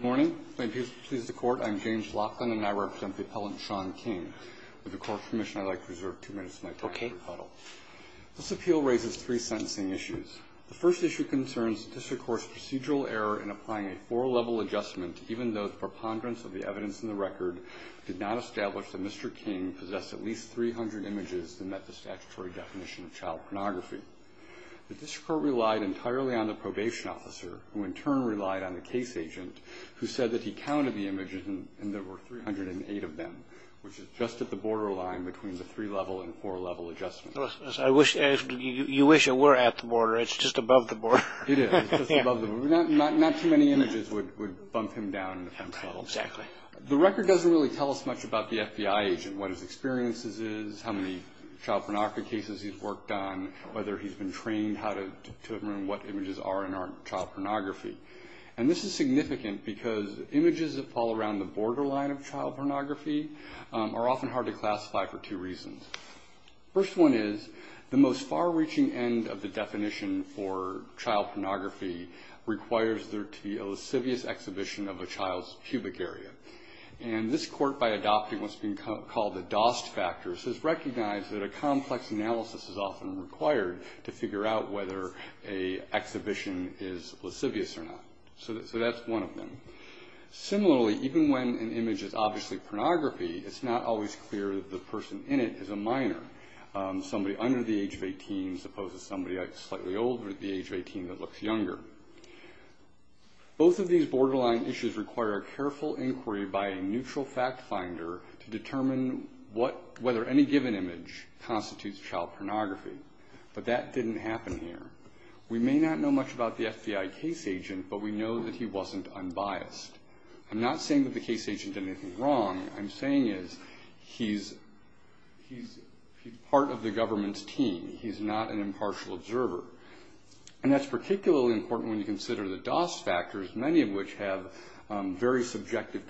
Morning. I'm James Laughlin, and I represent the appellant Shaun King. With the Court's permission, I'd like to reserve two minutes of my time for rebuttal. This appeal raises three sentencing issues. The first issue concerns the District Court's procedural error in applying a four-level adjustment, even though the preponderance of the evidence in the record did not establish that Mr. King possessed at least 300 images that met the statutory definition of child pornography, who said that he counted the images and there were 308 of them, which is just at the borderline between the three-level and four-level Robert R. Reilly Yes, I wish, you wish it were at the border. It's just above the border. Shaun King It is. It's just above the border. Not too many images would bump him down. Robert R. Reilly Exactly. Shaun King The record doesn't really tell us much about the FBI agent, what his experiences is, how many child pornography cases he's worked on, whether he's been trained how to determine what images are and aren't child pornography. And this is significant because images that fall around the borderline of child pornography are often hard to classify for two reasons. First one is, the most far-reaching end of the definition for child pornography requires there to be a lascivious exhibition of a child's pubic area. And this Court, by adopting what's been called the DOST factors, has recognized that a exhibition is lascivious or not. So that's one of them. Similarly, even when an image is obviously pornography, it's not always clear that the person in it is a minor, somebody under the age of 18 as opposed to somebody slightly older at the age of 18 that looks younger. Both of these borderline issues require a careful inquiry by a neutral fact finder to determine whether any given image constitutes child pornography. But that didn't happen here. We may not know much about the FBI case agent, but we know that he wasn't unbiased. I'm not saying that the case agent did anything wrong. I'm saying he's part of the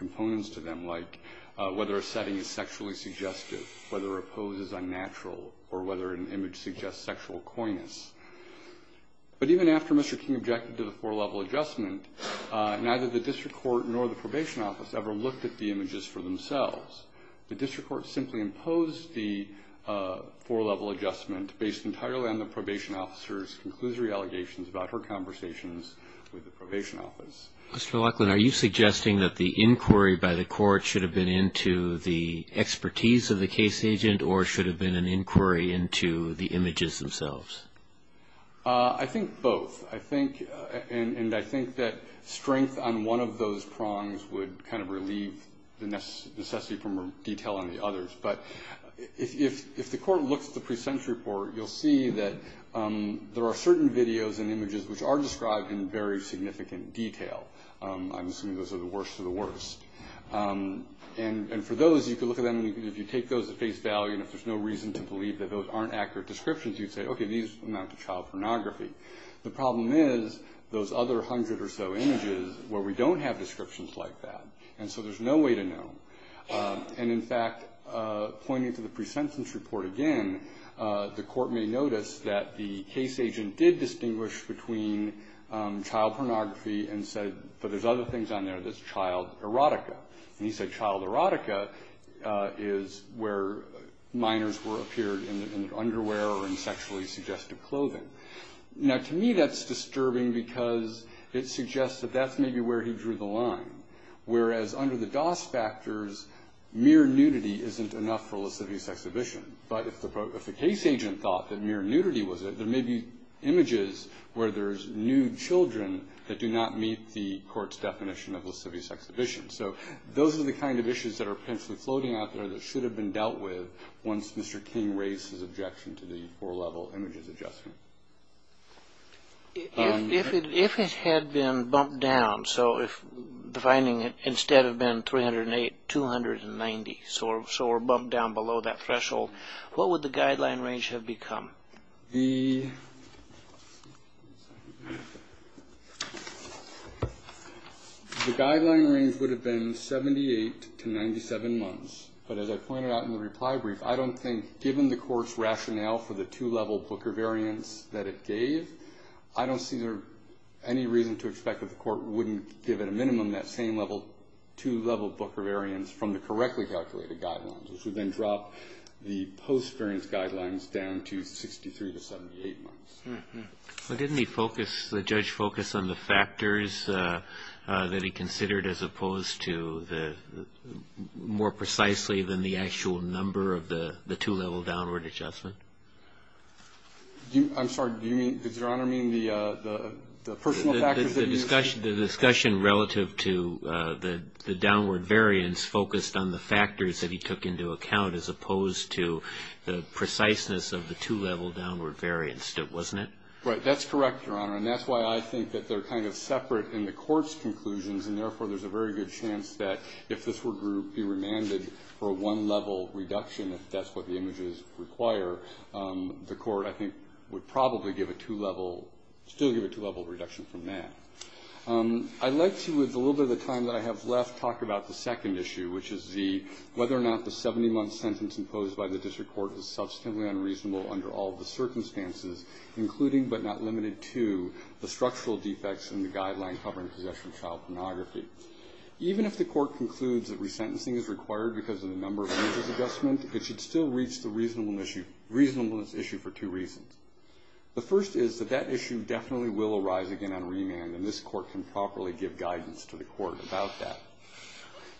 case. But even after Mr. King objected to the four-level adjustment, neither the District Court nor the Probation Office ever looked at the images for themselves. The District Court simply imposed the four-level adjustment based entirely on the Probation Officer's conclusory allegations about her involvement. I think both. And I think that strength on one of those prongs would kind of relieve the necessity for more detail on the others. But if the Court looks at the others, you can look at them and if you take those at face value and if there's no reason to believe that those aren't accurate descriptions, you'd say, okay, these amount to child pornography. The problem is those other hundred or so images where we don't have descriptions like that. And so there's no way to know. And in fact, pointing to the pre-sentence report again, the Court may notice that the case agent did distinguish between child pornography and said, but there's other things on there that's child erotica. And he said child erotica is where minors were appeared in underwear or in sexually suggestive clothing. Now, to me, that's disturbing because it suggests that that's maybe where he drew the line. Whereas under the DOS factors, mere nudity isn't enough for a lascivious exhibition. But if the case agent thought that mere nudity was it, there may be images where there's nude children that do not meet the Court's definition of lascivious exhibition. So those are the kind of issues that are potentially floating out there that should have been dealt with once Mr. King raised his objection to the four-level images adjustment. If it had been bumped down, so if the finding instead had been 308, 290, so we're bumped down below that threshold, what would the guideline range have become? The guideline range would have been 78 to 97 months. But as I pointed out in the reply brief, I don't think, given the Court's rationale for the two-level Booker variance that it gave, I don't see any reason to expect that the Court wouldn't give at a minimum that same two-level Booker variance from the correctly calculated guidelines, which would then drop the post-variance guidelines down to 63 to 78 months. Well, didn't he focus, the judge focus on the factors that he considered as opposed to the more precisely than the actual number of the two-level downward adjustment? I'm sorry. Do you mean, does Your Honor mean the personal factors that he used? The discussion relative to the downward variance focused on the factors that he took into account as opposed to the preciseness of the two-level downward variance. It wasn't the two-level downward variance. Right. That's correct, Your Honor, and that's why I think that they're kind of separate in the Court's conclusions, and therefore there's a very good chance that if this were to be remanded for a one-level reduction, if that's what the images require, the Court, I think, would probably give a two-level, still give a two-level reduction from that. I'd like to, with a little bit of time that I have left, talk about the second issue, which is the, whether or not the 70-month sentence imposed by the District Court is substantively unreasonable under all the circumstances, including the fact that the two-level downward variance would be a one-level reduction, and that's the one I'll be talking about. I think the two-level reduction would be a one-level reduction. I think the two-level reduction would be a one-level reduction. I think the two-level reduction would be a one-level reduction. I think the two-level reduction would be a one- move that's implicating but not limited to the structural defects in the guideline covering possession and child pornography. Even if the Court concludes that resentencing is required because of the number of images adjustment, it should still reach the reasonableness issue for two reasons. The first is that issue definitely will arise again on remand and this Court can properly give guidance to the Court about that.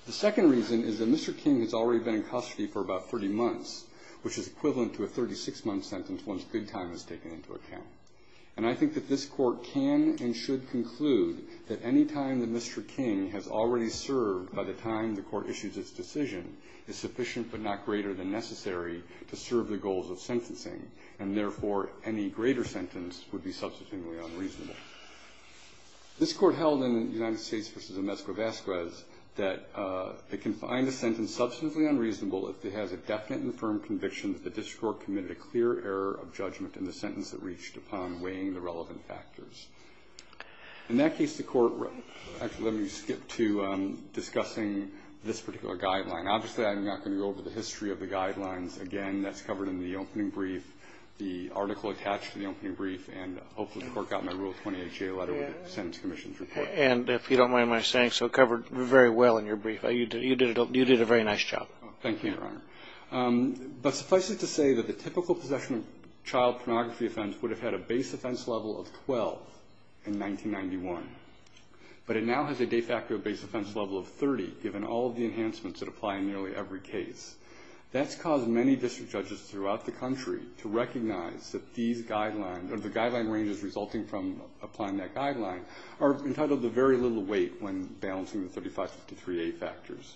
The second reason is that Mr. King has already been in custody for about 30 months, which is equivalent to a 36-month sentence once good time is taken into account. And I think that this Court can and should conclude that any time that Mr. King has already served by the time the Court issues its decision is sufficient but not greater than necessary to serve the goals of sentencing and therefore any greater sentence would be substantially unreasonable. This Court held in the United States v. Omezco-Vasquez that it can find a sentence substantially unreasonable if it has a definite and firm conviction that the District Court committed a clear error of judgment in the sentence it reached upon, weighing the relevant factors. In that case, the Court actually let me skip to discussing this particular guideline. Obviously, I'm not going to go over the history of the guidelines. Again, that's covered in the opening brief, the article attached to the opening brief, and hopefully the Court got my Rule 20HA letter with the Sentence Commission's report. And if you don't mind my saying so, it covered very well in your brief. You did a very nice job. Thank you, Your Honor. But suffice it to say that the typical possession of child pornography offense would have had a base offense level of 12 in 1991. But it now has a de facto base offense level of 30, given all of the enhancements that apply in nearly every case. That's caused many district judges throughout the country to recognize that these guidelines, or the guideline ranges resulting from applying that guideline, are entitled to very little weight when balancing the 3553A factors.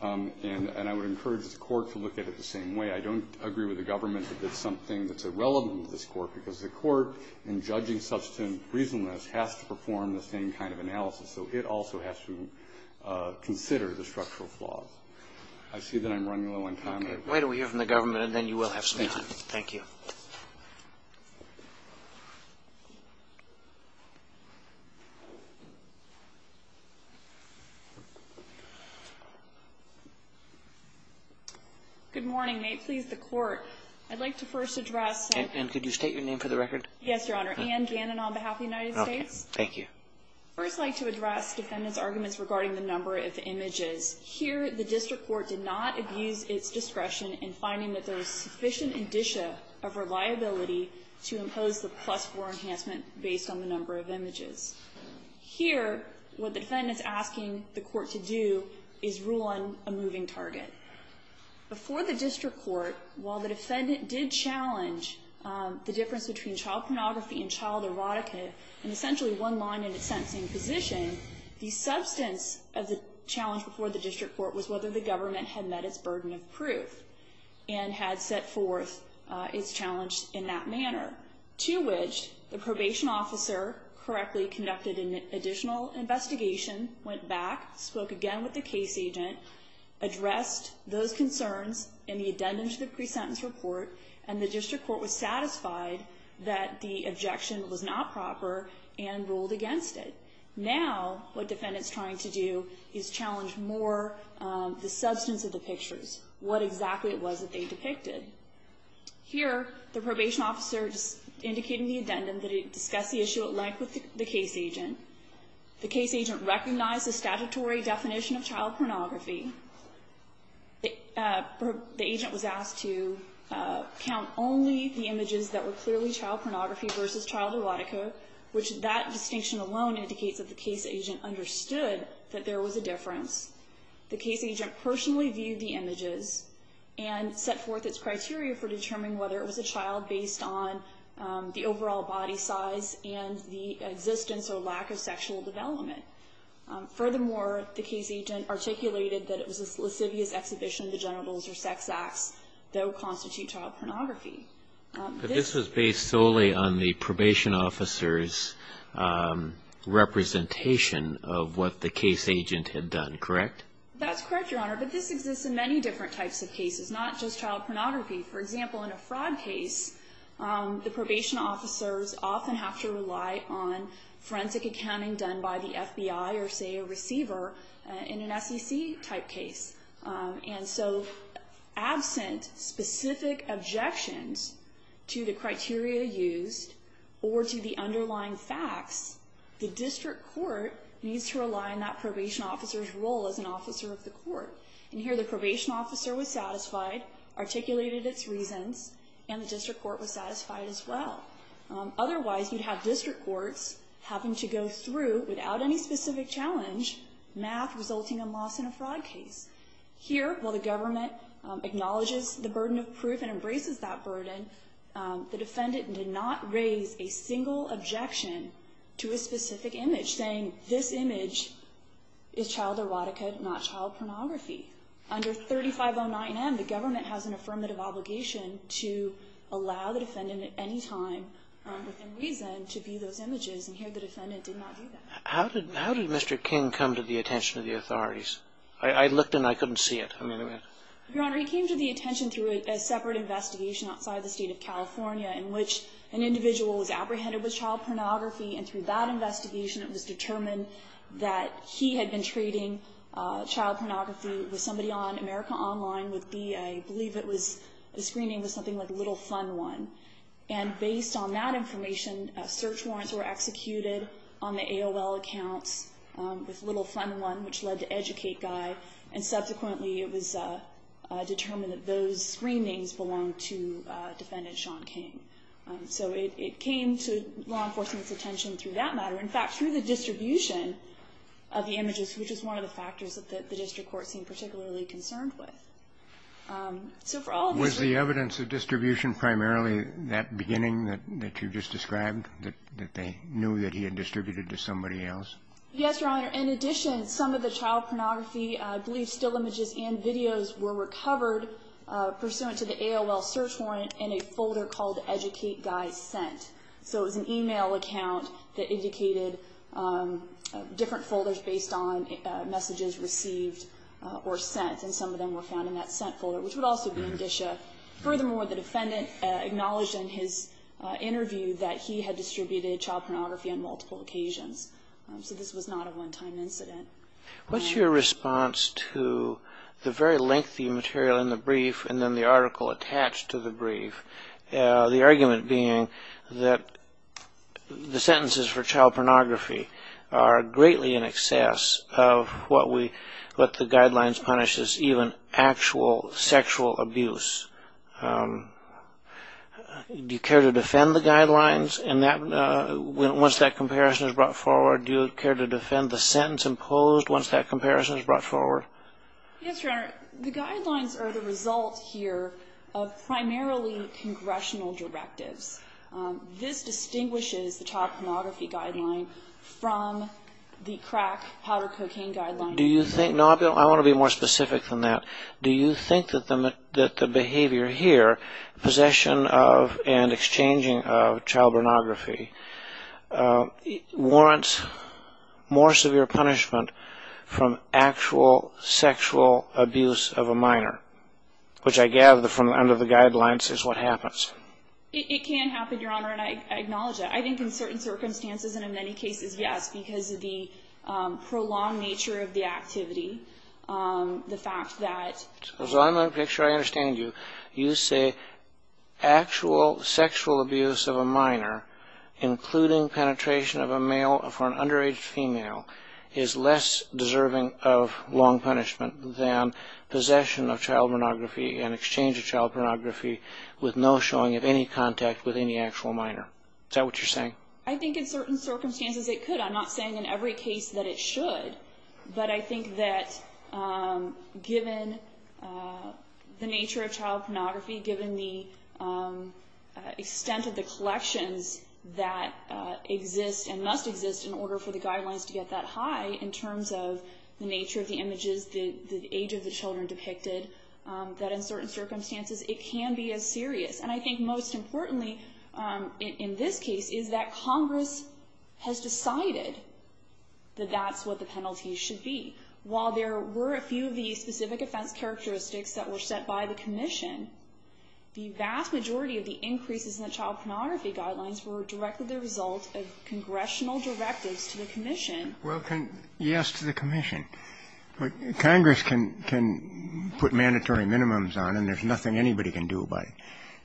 And I would encourage the Court to look at it the same way. I don't agree with the government that that's something that's irrelevant to this Court, because the Court, in judging substantive reasonableness, has to perform the same kind of analysis. So it also has to consider the structural flaws. I see that I'm running low on time. Okay. Why don't we hear from the government, and then you will have some time. Thank you. Good morning. May it please the Court, I'd like to first address... And could you state your name for the record? Yes, Your Honor. Anne Gannon on behalf of the United States. Okay. Thank you. I'd first like to address defendant's arguments regarding the number of images. Here, the district court did not abuse its discretion in finding that there was sufficient indicia of reliability to impose the plus four enhancement based on the number of images. Here, what the defendant's asking the Court to do is rule on a moving target. Before the district court, while the defendant did challenge the difference between child pornography and child erotica in essentially one line in a sentencing position, the substance of the challenge before the district court was whether the government had met its burden of proof and had set forth its challenge in that manner. To which, the probation officer correctly conducted an additional investigation, went back, spoke again with the case agent, addressed those concerns in the addendum to the pre-sentence report, and the district court was satisfied that the objection was not proper and ruled against it. Now, what defendant's trying to do is challenge more the substance of the pictures, what exactly it was that they depicted. Here, the probation officer is indicating the addendum that he discussed the issue at length with the case agent. The case agent recognized the statutory definition of child pornography. The agent was asked to count only the images that were clearly child pornography versus child erotica, which that distinction alone indicates that the case agent understood that there was a difference. The case agent personally viewed the images and set forth its criteria for determining whether it was a child based on the overall body size and the existence or lack of sexual development. Furthermore, the case agent articulated that it was a lascivious exhibition of the genitals or sex acts that would constitute child pornography. But this was based solely on the probation officer's representation of what the case agent had done, correct? That's correct, Your Honor, but this exists in many different types of cases, not just child pornography. For example, in a fraud case, the probation officers often have to rely on forensic accounting done by the FBI or, say, a receiver in an SEC type case. And so, absent specific objections to the criteria used or to the underlying facts, the district court needs to rely on that probation officer's role as an officer of the court. And here, the probation officer was satisfied, articulated its reasons, and the district court was satisfied as well. Otherwise, you'd have district courts having to go through, without any specific challenge, math resulting in loss in a fraud case. Here, while the government acknowledges the burden of proof and embraces that burden, the defendant did not raise a single objection to a specific image, saying, this image is child erotica, not child pornography. Under 3509M, the government has an affirmative obligation to allow the defendant at any time, within reason, to view those images. And here, the defendant did not do that. How did Mr. King come to the attention of the authorities? I looked and I couldn't see it. Your Honor, he came to the attention through a separate investigation outside the state of California in which an individual was apprehended with child pornography, and through that investigation, it was determined that he had been trading child pornography with somebody on America Online with the, I believe it was, the screening was something like Little Fun One. And based on that information, search warrants were executed on the AOL accounts with Little Fun One, which led to Educate Guy. And subsequently, it was determined that those screenings belonged to Defendant Sean King. So it came to law enforcement's attention through that matter. In fact, through the distribution of the images, which is one of the factors that the district court seemed particularly concerned with. So for all of these reasons... Was the evidence of distribution primarily that beginning that you just described, that they knew that he had distributed to somebody else? Yes, Your Honor. In addition, some of the child pornography, I believe still images and videos, were recovered pursuant to the AOL search warrant in a folder called Educate Guy Sent. So it was an email account that indicated different folders based on messages received or sent. And some of them were found in that Sent folder, which would also be in Disha. Furthermore, the defendant acknowledged in his interview that he had distributed child pornography on multiple occasions. So this was not a one-time incident. What's your response to the very lengthy material in the brief and then the article attached to the brief? The argument being that the sentences for child pornography are greatly in excess of what the guidelines punish as even actual sexual abuse. Do you care to defend the guidelines once that comparison is brought forward? Or do you care to defend the sentence imposed once that comparison is brought forward? Yes, Your Honor. The guidelines are the result here of primarily congressional directives. This distinguishes the child pornography guideline from the crack, powder cocaine guideline. Do you think... No, I want to be more specific than that. Do you think that the behavior here, possession of and exchanging of child pornography, warrants more severe punishment from actual sexual abuse of a minor? Which I gather from under the guidelines is what happens. It can happen, Your Honor, and I acknowledge that. I think in certain circumstances and in many cases, yes, because of the prolonged nature of the activity. The fact that... So I'm going to make sure I understand you. You say actual sexual abuse of a minor, including penetration of a male for an underage female, is less deserving of long punishment than possession of child pornography and exchange of child pornography with no showing of any contact with any actual minor. Is that what you're saying? I think in certain circumstances it could. I'm not saying in every case that it should. But I think that given the nature of child pornography, given the extent of the collections that exist and must exist in order for the guidelines to get that high, in terms of the nature of the images, the age of the children depicted, that in certain circumstances it can be as serious. And I think most importantly in this case is that Congress has decided that that's what the penalty should be. While there were a few of the specific offense characteristics that were set by the commission, the vast majority of the increases in the child pornography guidelines were directly the result of congressional directives to the commission. Well, yes, to the commission. Congress can put mandatory minimums on, and there's nothing anybody can do about it.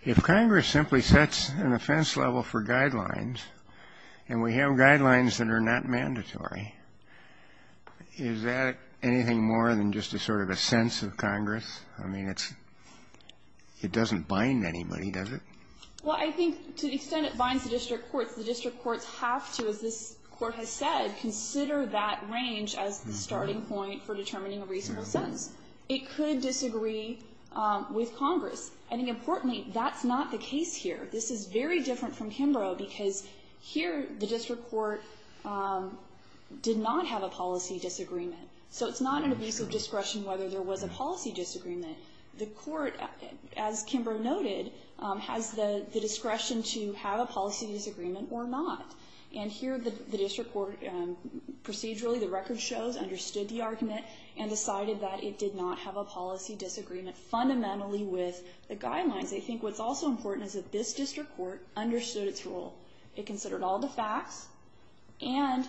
If Congress simply sets an offense level for guidelines, and we have guidelines that are not mandatory, is that anything more than just a sort of a sense of Congress? I mean, it doesn't bind anybody, does it? Well, I think to the extent it binds the district courts, the district courts have to, as this Court has said, consider that range as the starting point for determining a reasonable sentence. It could disagree with Congress. And importantly, that's not the case here. This is very different from Kimbrough, because here the district court did not have a policy disagreement. So it's not an abuse of discretion whether there was a policy disagreement. The court, as Kimbrough noted, has the discretion to have a policy disagreement or not. And here the district court procedurally, the record shows, understood the argument and decided that it did not have a policy disagreement fundamentally with the guidelines. I think what's also important is that this district court understood its role. It considered all the facts and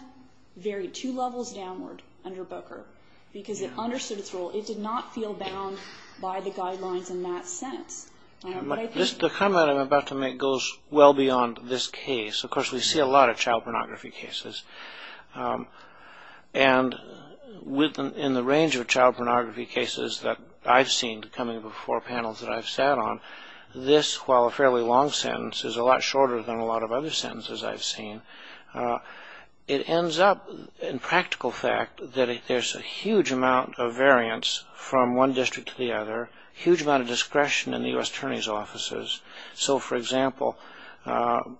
varied two levels downward under Booker, because it understood its role. It did not feel bound by the guidelines in that sense. The comment I'm about to make goes well beyond this case. Of course, we see a lot of child pornography cases. And in the range of child pornography cases that I've seen coming before panels that I've sat on, this, while a fairly long sentence, is a lot shorter than a lot of other sentences I've seen. It ends up, in practical fact, that there's a huge amount of variance from one district to the other, huge amount of discretion in the U.S. Attorney's offices. So, for example, the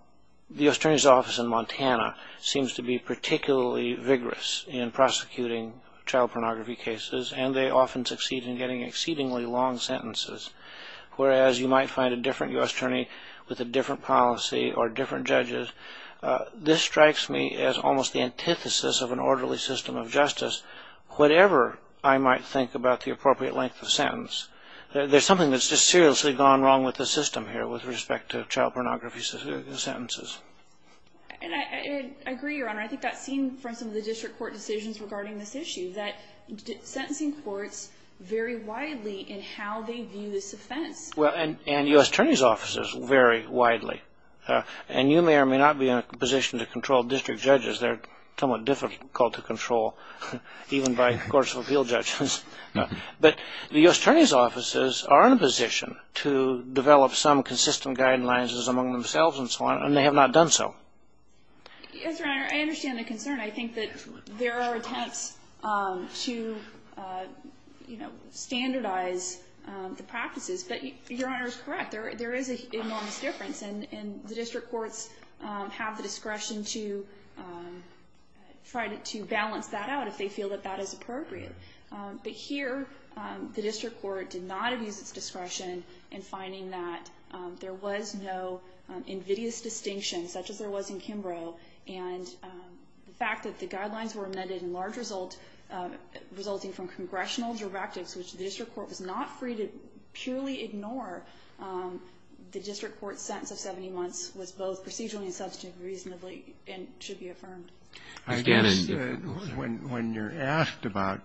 U.S. Attorney's office in Montana seems to be particularly vigorous in prosecuting child pornography cases, and they often succeed in getting exceedingly long sentences. Whereas you might find a different U.S. Attorney with a different policy or different judges. This strikes me as almost the antithesis of an orderly system of justice, whatever I might think about the appropriate length of sentence. There's something that's just seriously gone wrong with the system here with respect to child pornography sentences. And I agree, Your Honor. I think that's seen from some of the district court decisions regarding this issue, that sentencing courts vary widely in how they view this offense. Well, and U.S. Attorney's offices vary widely. And you may or may not be in a position to control district judges. They're somewhat difficult to control, even by courts of appeal judges. But the U.S. Attorney's offices are in a position to develop some consistent guidelines among themselves and so on, and they have not done so. Yes, Your Honor. I understand the concern. I think that there are attempts to, you know, standardize the practices. But Your Honor is correct. There is an enormous difference. And the district courts have the discretion to try to balance that out if they feel that that is appropriate. But here, the district court did not abuse its discretion in finding that there was no invidious distinction, such as there was in Kimbrough. And the fact that the guidelines were amended in large result resulting from congressional directives, which the district court was not free to purely ignore the district court's sentence of 70 months, was both procedurally and subjectively reasonably and should be affirmed. I guess when you're asked about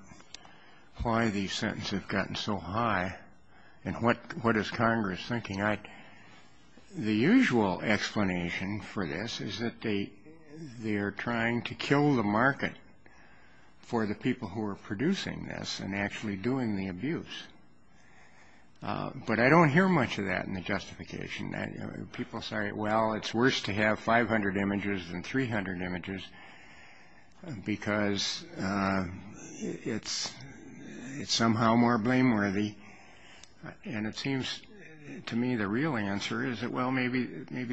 why these sentences have gotten so high and what is Congress thinking, the usual explanation for this is that they are trying to kill the market for the people who are producing this and actually doing the abuse. But I don't hear much of that in the justification. People say, well, it's worse to have 500 images than 300 images because it's somehow more blameworthy. And it seems to me the real answer is that, well, maybe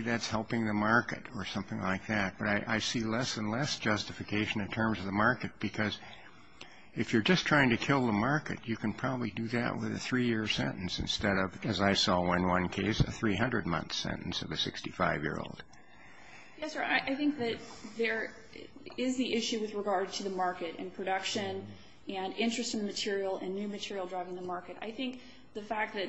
that's helping the market or something like that. But I see less and less justification in terms of the market because if you're just trying to kill the market, you can probably do that with a three-year sentence instead of, as I saw in one case, a 300-month sentence of a 65-year-old. Yes, sir. I think that there is the issue with regard to the market and production and interest in the material and new material driving the market. I think the fact that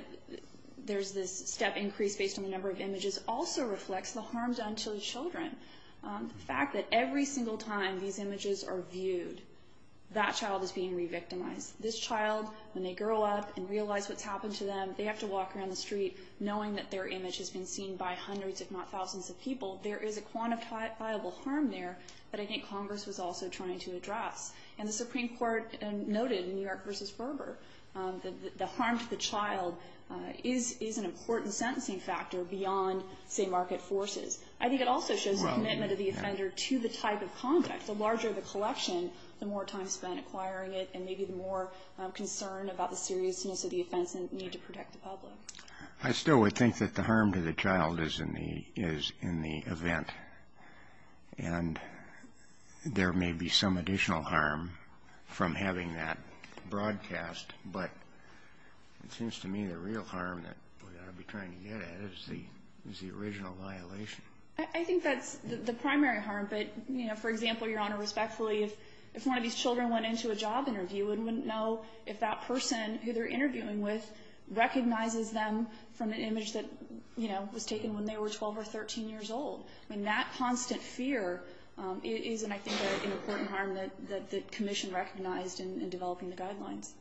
there's this step increase based on the number of images also reflects the harm done to the children. The fact that every single time these images are viewed, that child is being re-victimized. This child, when they grow up and realize what's happened to them, they have to walk around the street knowing that their image has been seen by hundreds, if not thousands, of people. There is a quantifiable harm there that I think Congress was also trying to address. And the Supreme Court noted in New York v. Ferber that the harm to the child is an important sentencing factor beyond, say, market forces. I think it also shows the commitment of the offender to the type of content. The larger the collection, the more time spent acquiring it, and maybe the more concern about the seriousness of the offense and need to protect the public. I still would think that the harm to the child is in the event. And there may be some additional harm from having that broadcast, but it seems to me the real harm that we ought to be trying to get at is the original violation. I think that's the primary harm. But, you know, for example, Your Honor, respectfully, if one of these children went into a job interview and wouldn't know if that person who they're interviewing with recognizes them from an image that, you know, was taken when they were 12 or 13 years old. I mean, that constant fear is, I think, an important harm that the Commission recognized in developing the guidelines.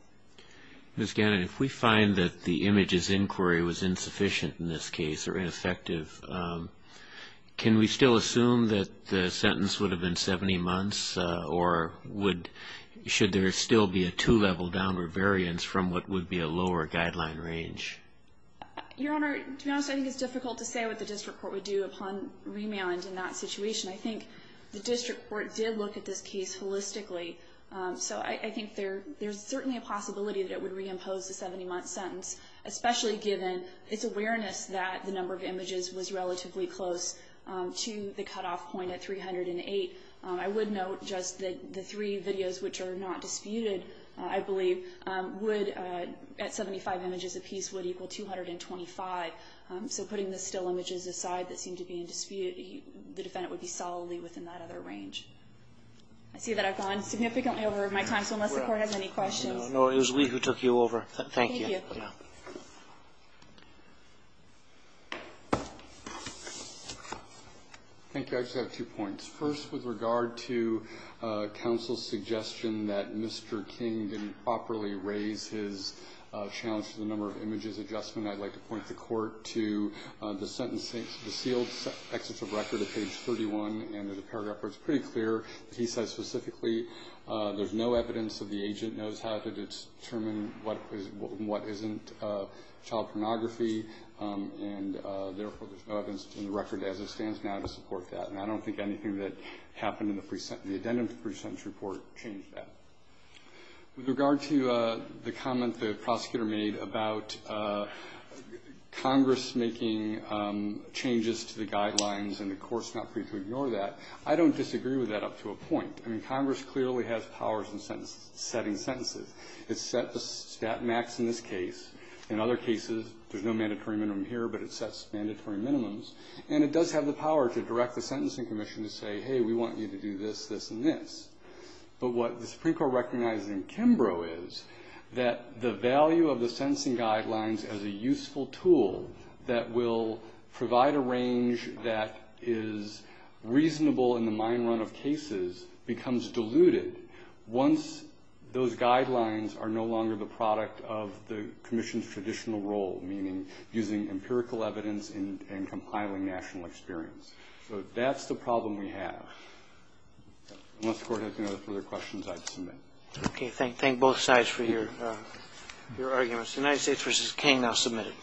Ms. Gannon, if we find that the image's inquiry was insufficient in this case or ineffective, can we still assume that the sentence would have been 70 months? Or should there still be a two-level downward variance from what would be a lower guideline range? Your Honor, to be honest, I think it's difficult to say what the district court would do upon remand in that situation. I think the district court did look at this case holistically. So I think there's certainly a possibility that it would reimpose the 70-month sentence, especially given its awareness that the number of images was relatively close to the cutoff point at 308. I would note just that the three videos, which are not disputed, I believe, would, at 75 images apiece, would equal 225. So putting the still images aside that seem to be in dispute, the defendant would be solidly within that other range. I see that I've gone significantly over my time, so unless the court has any questions... No, it was we who took you over. Thank you. Thank you. Thank you. I just have two points. First, with regard to counsel's suggestion that Mr. King didn't properly raise his challenge to the number of images adjustment, I'd like to point the court to the sealed excess of record at page 31. And there's a paragraph where it's pretty clear that he says specifically, there's no evidence that the agent knows how to determine what isn't child pornography, and therefore there's no evidence in the record as it stands now to support that. And I don't think anything that happened in the addendum to the pre-sentence report changed that. With regard to the comment the prosecutor made about Congress making changes to the guidelines and the court's not free to ignore that, I don't disagree with that up to a point. I mean, Congress clearly has powers in setting sentences. It's set the stat max in this case. In other cases, there's no mandatory minimum here, but it sets mandatory minimums. And it does have the power to direct the Sentencing Commission to say, hey, we want you to do this, this, and this. But what the Supreme Court recognized in Kimbrough is that the value of the sentencing guidelines as a useful tool that will provide a range that is reasonable in the mine run of cases, becomes diluted once those guidelines are no longer the product of the Commission's traditional role, meaning using empirical evidence and compiling national experience. So that's the problem we have. Unless the Court has any further questions, I'd submit. Okay, thank both sides for your arguments. United States v. King, now submitted.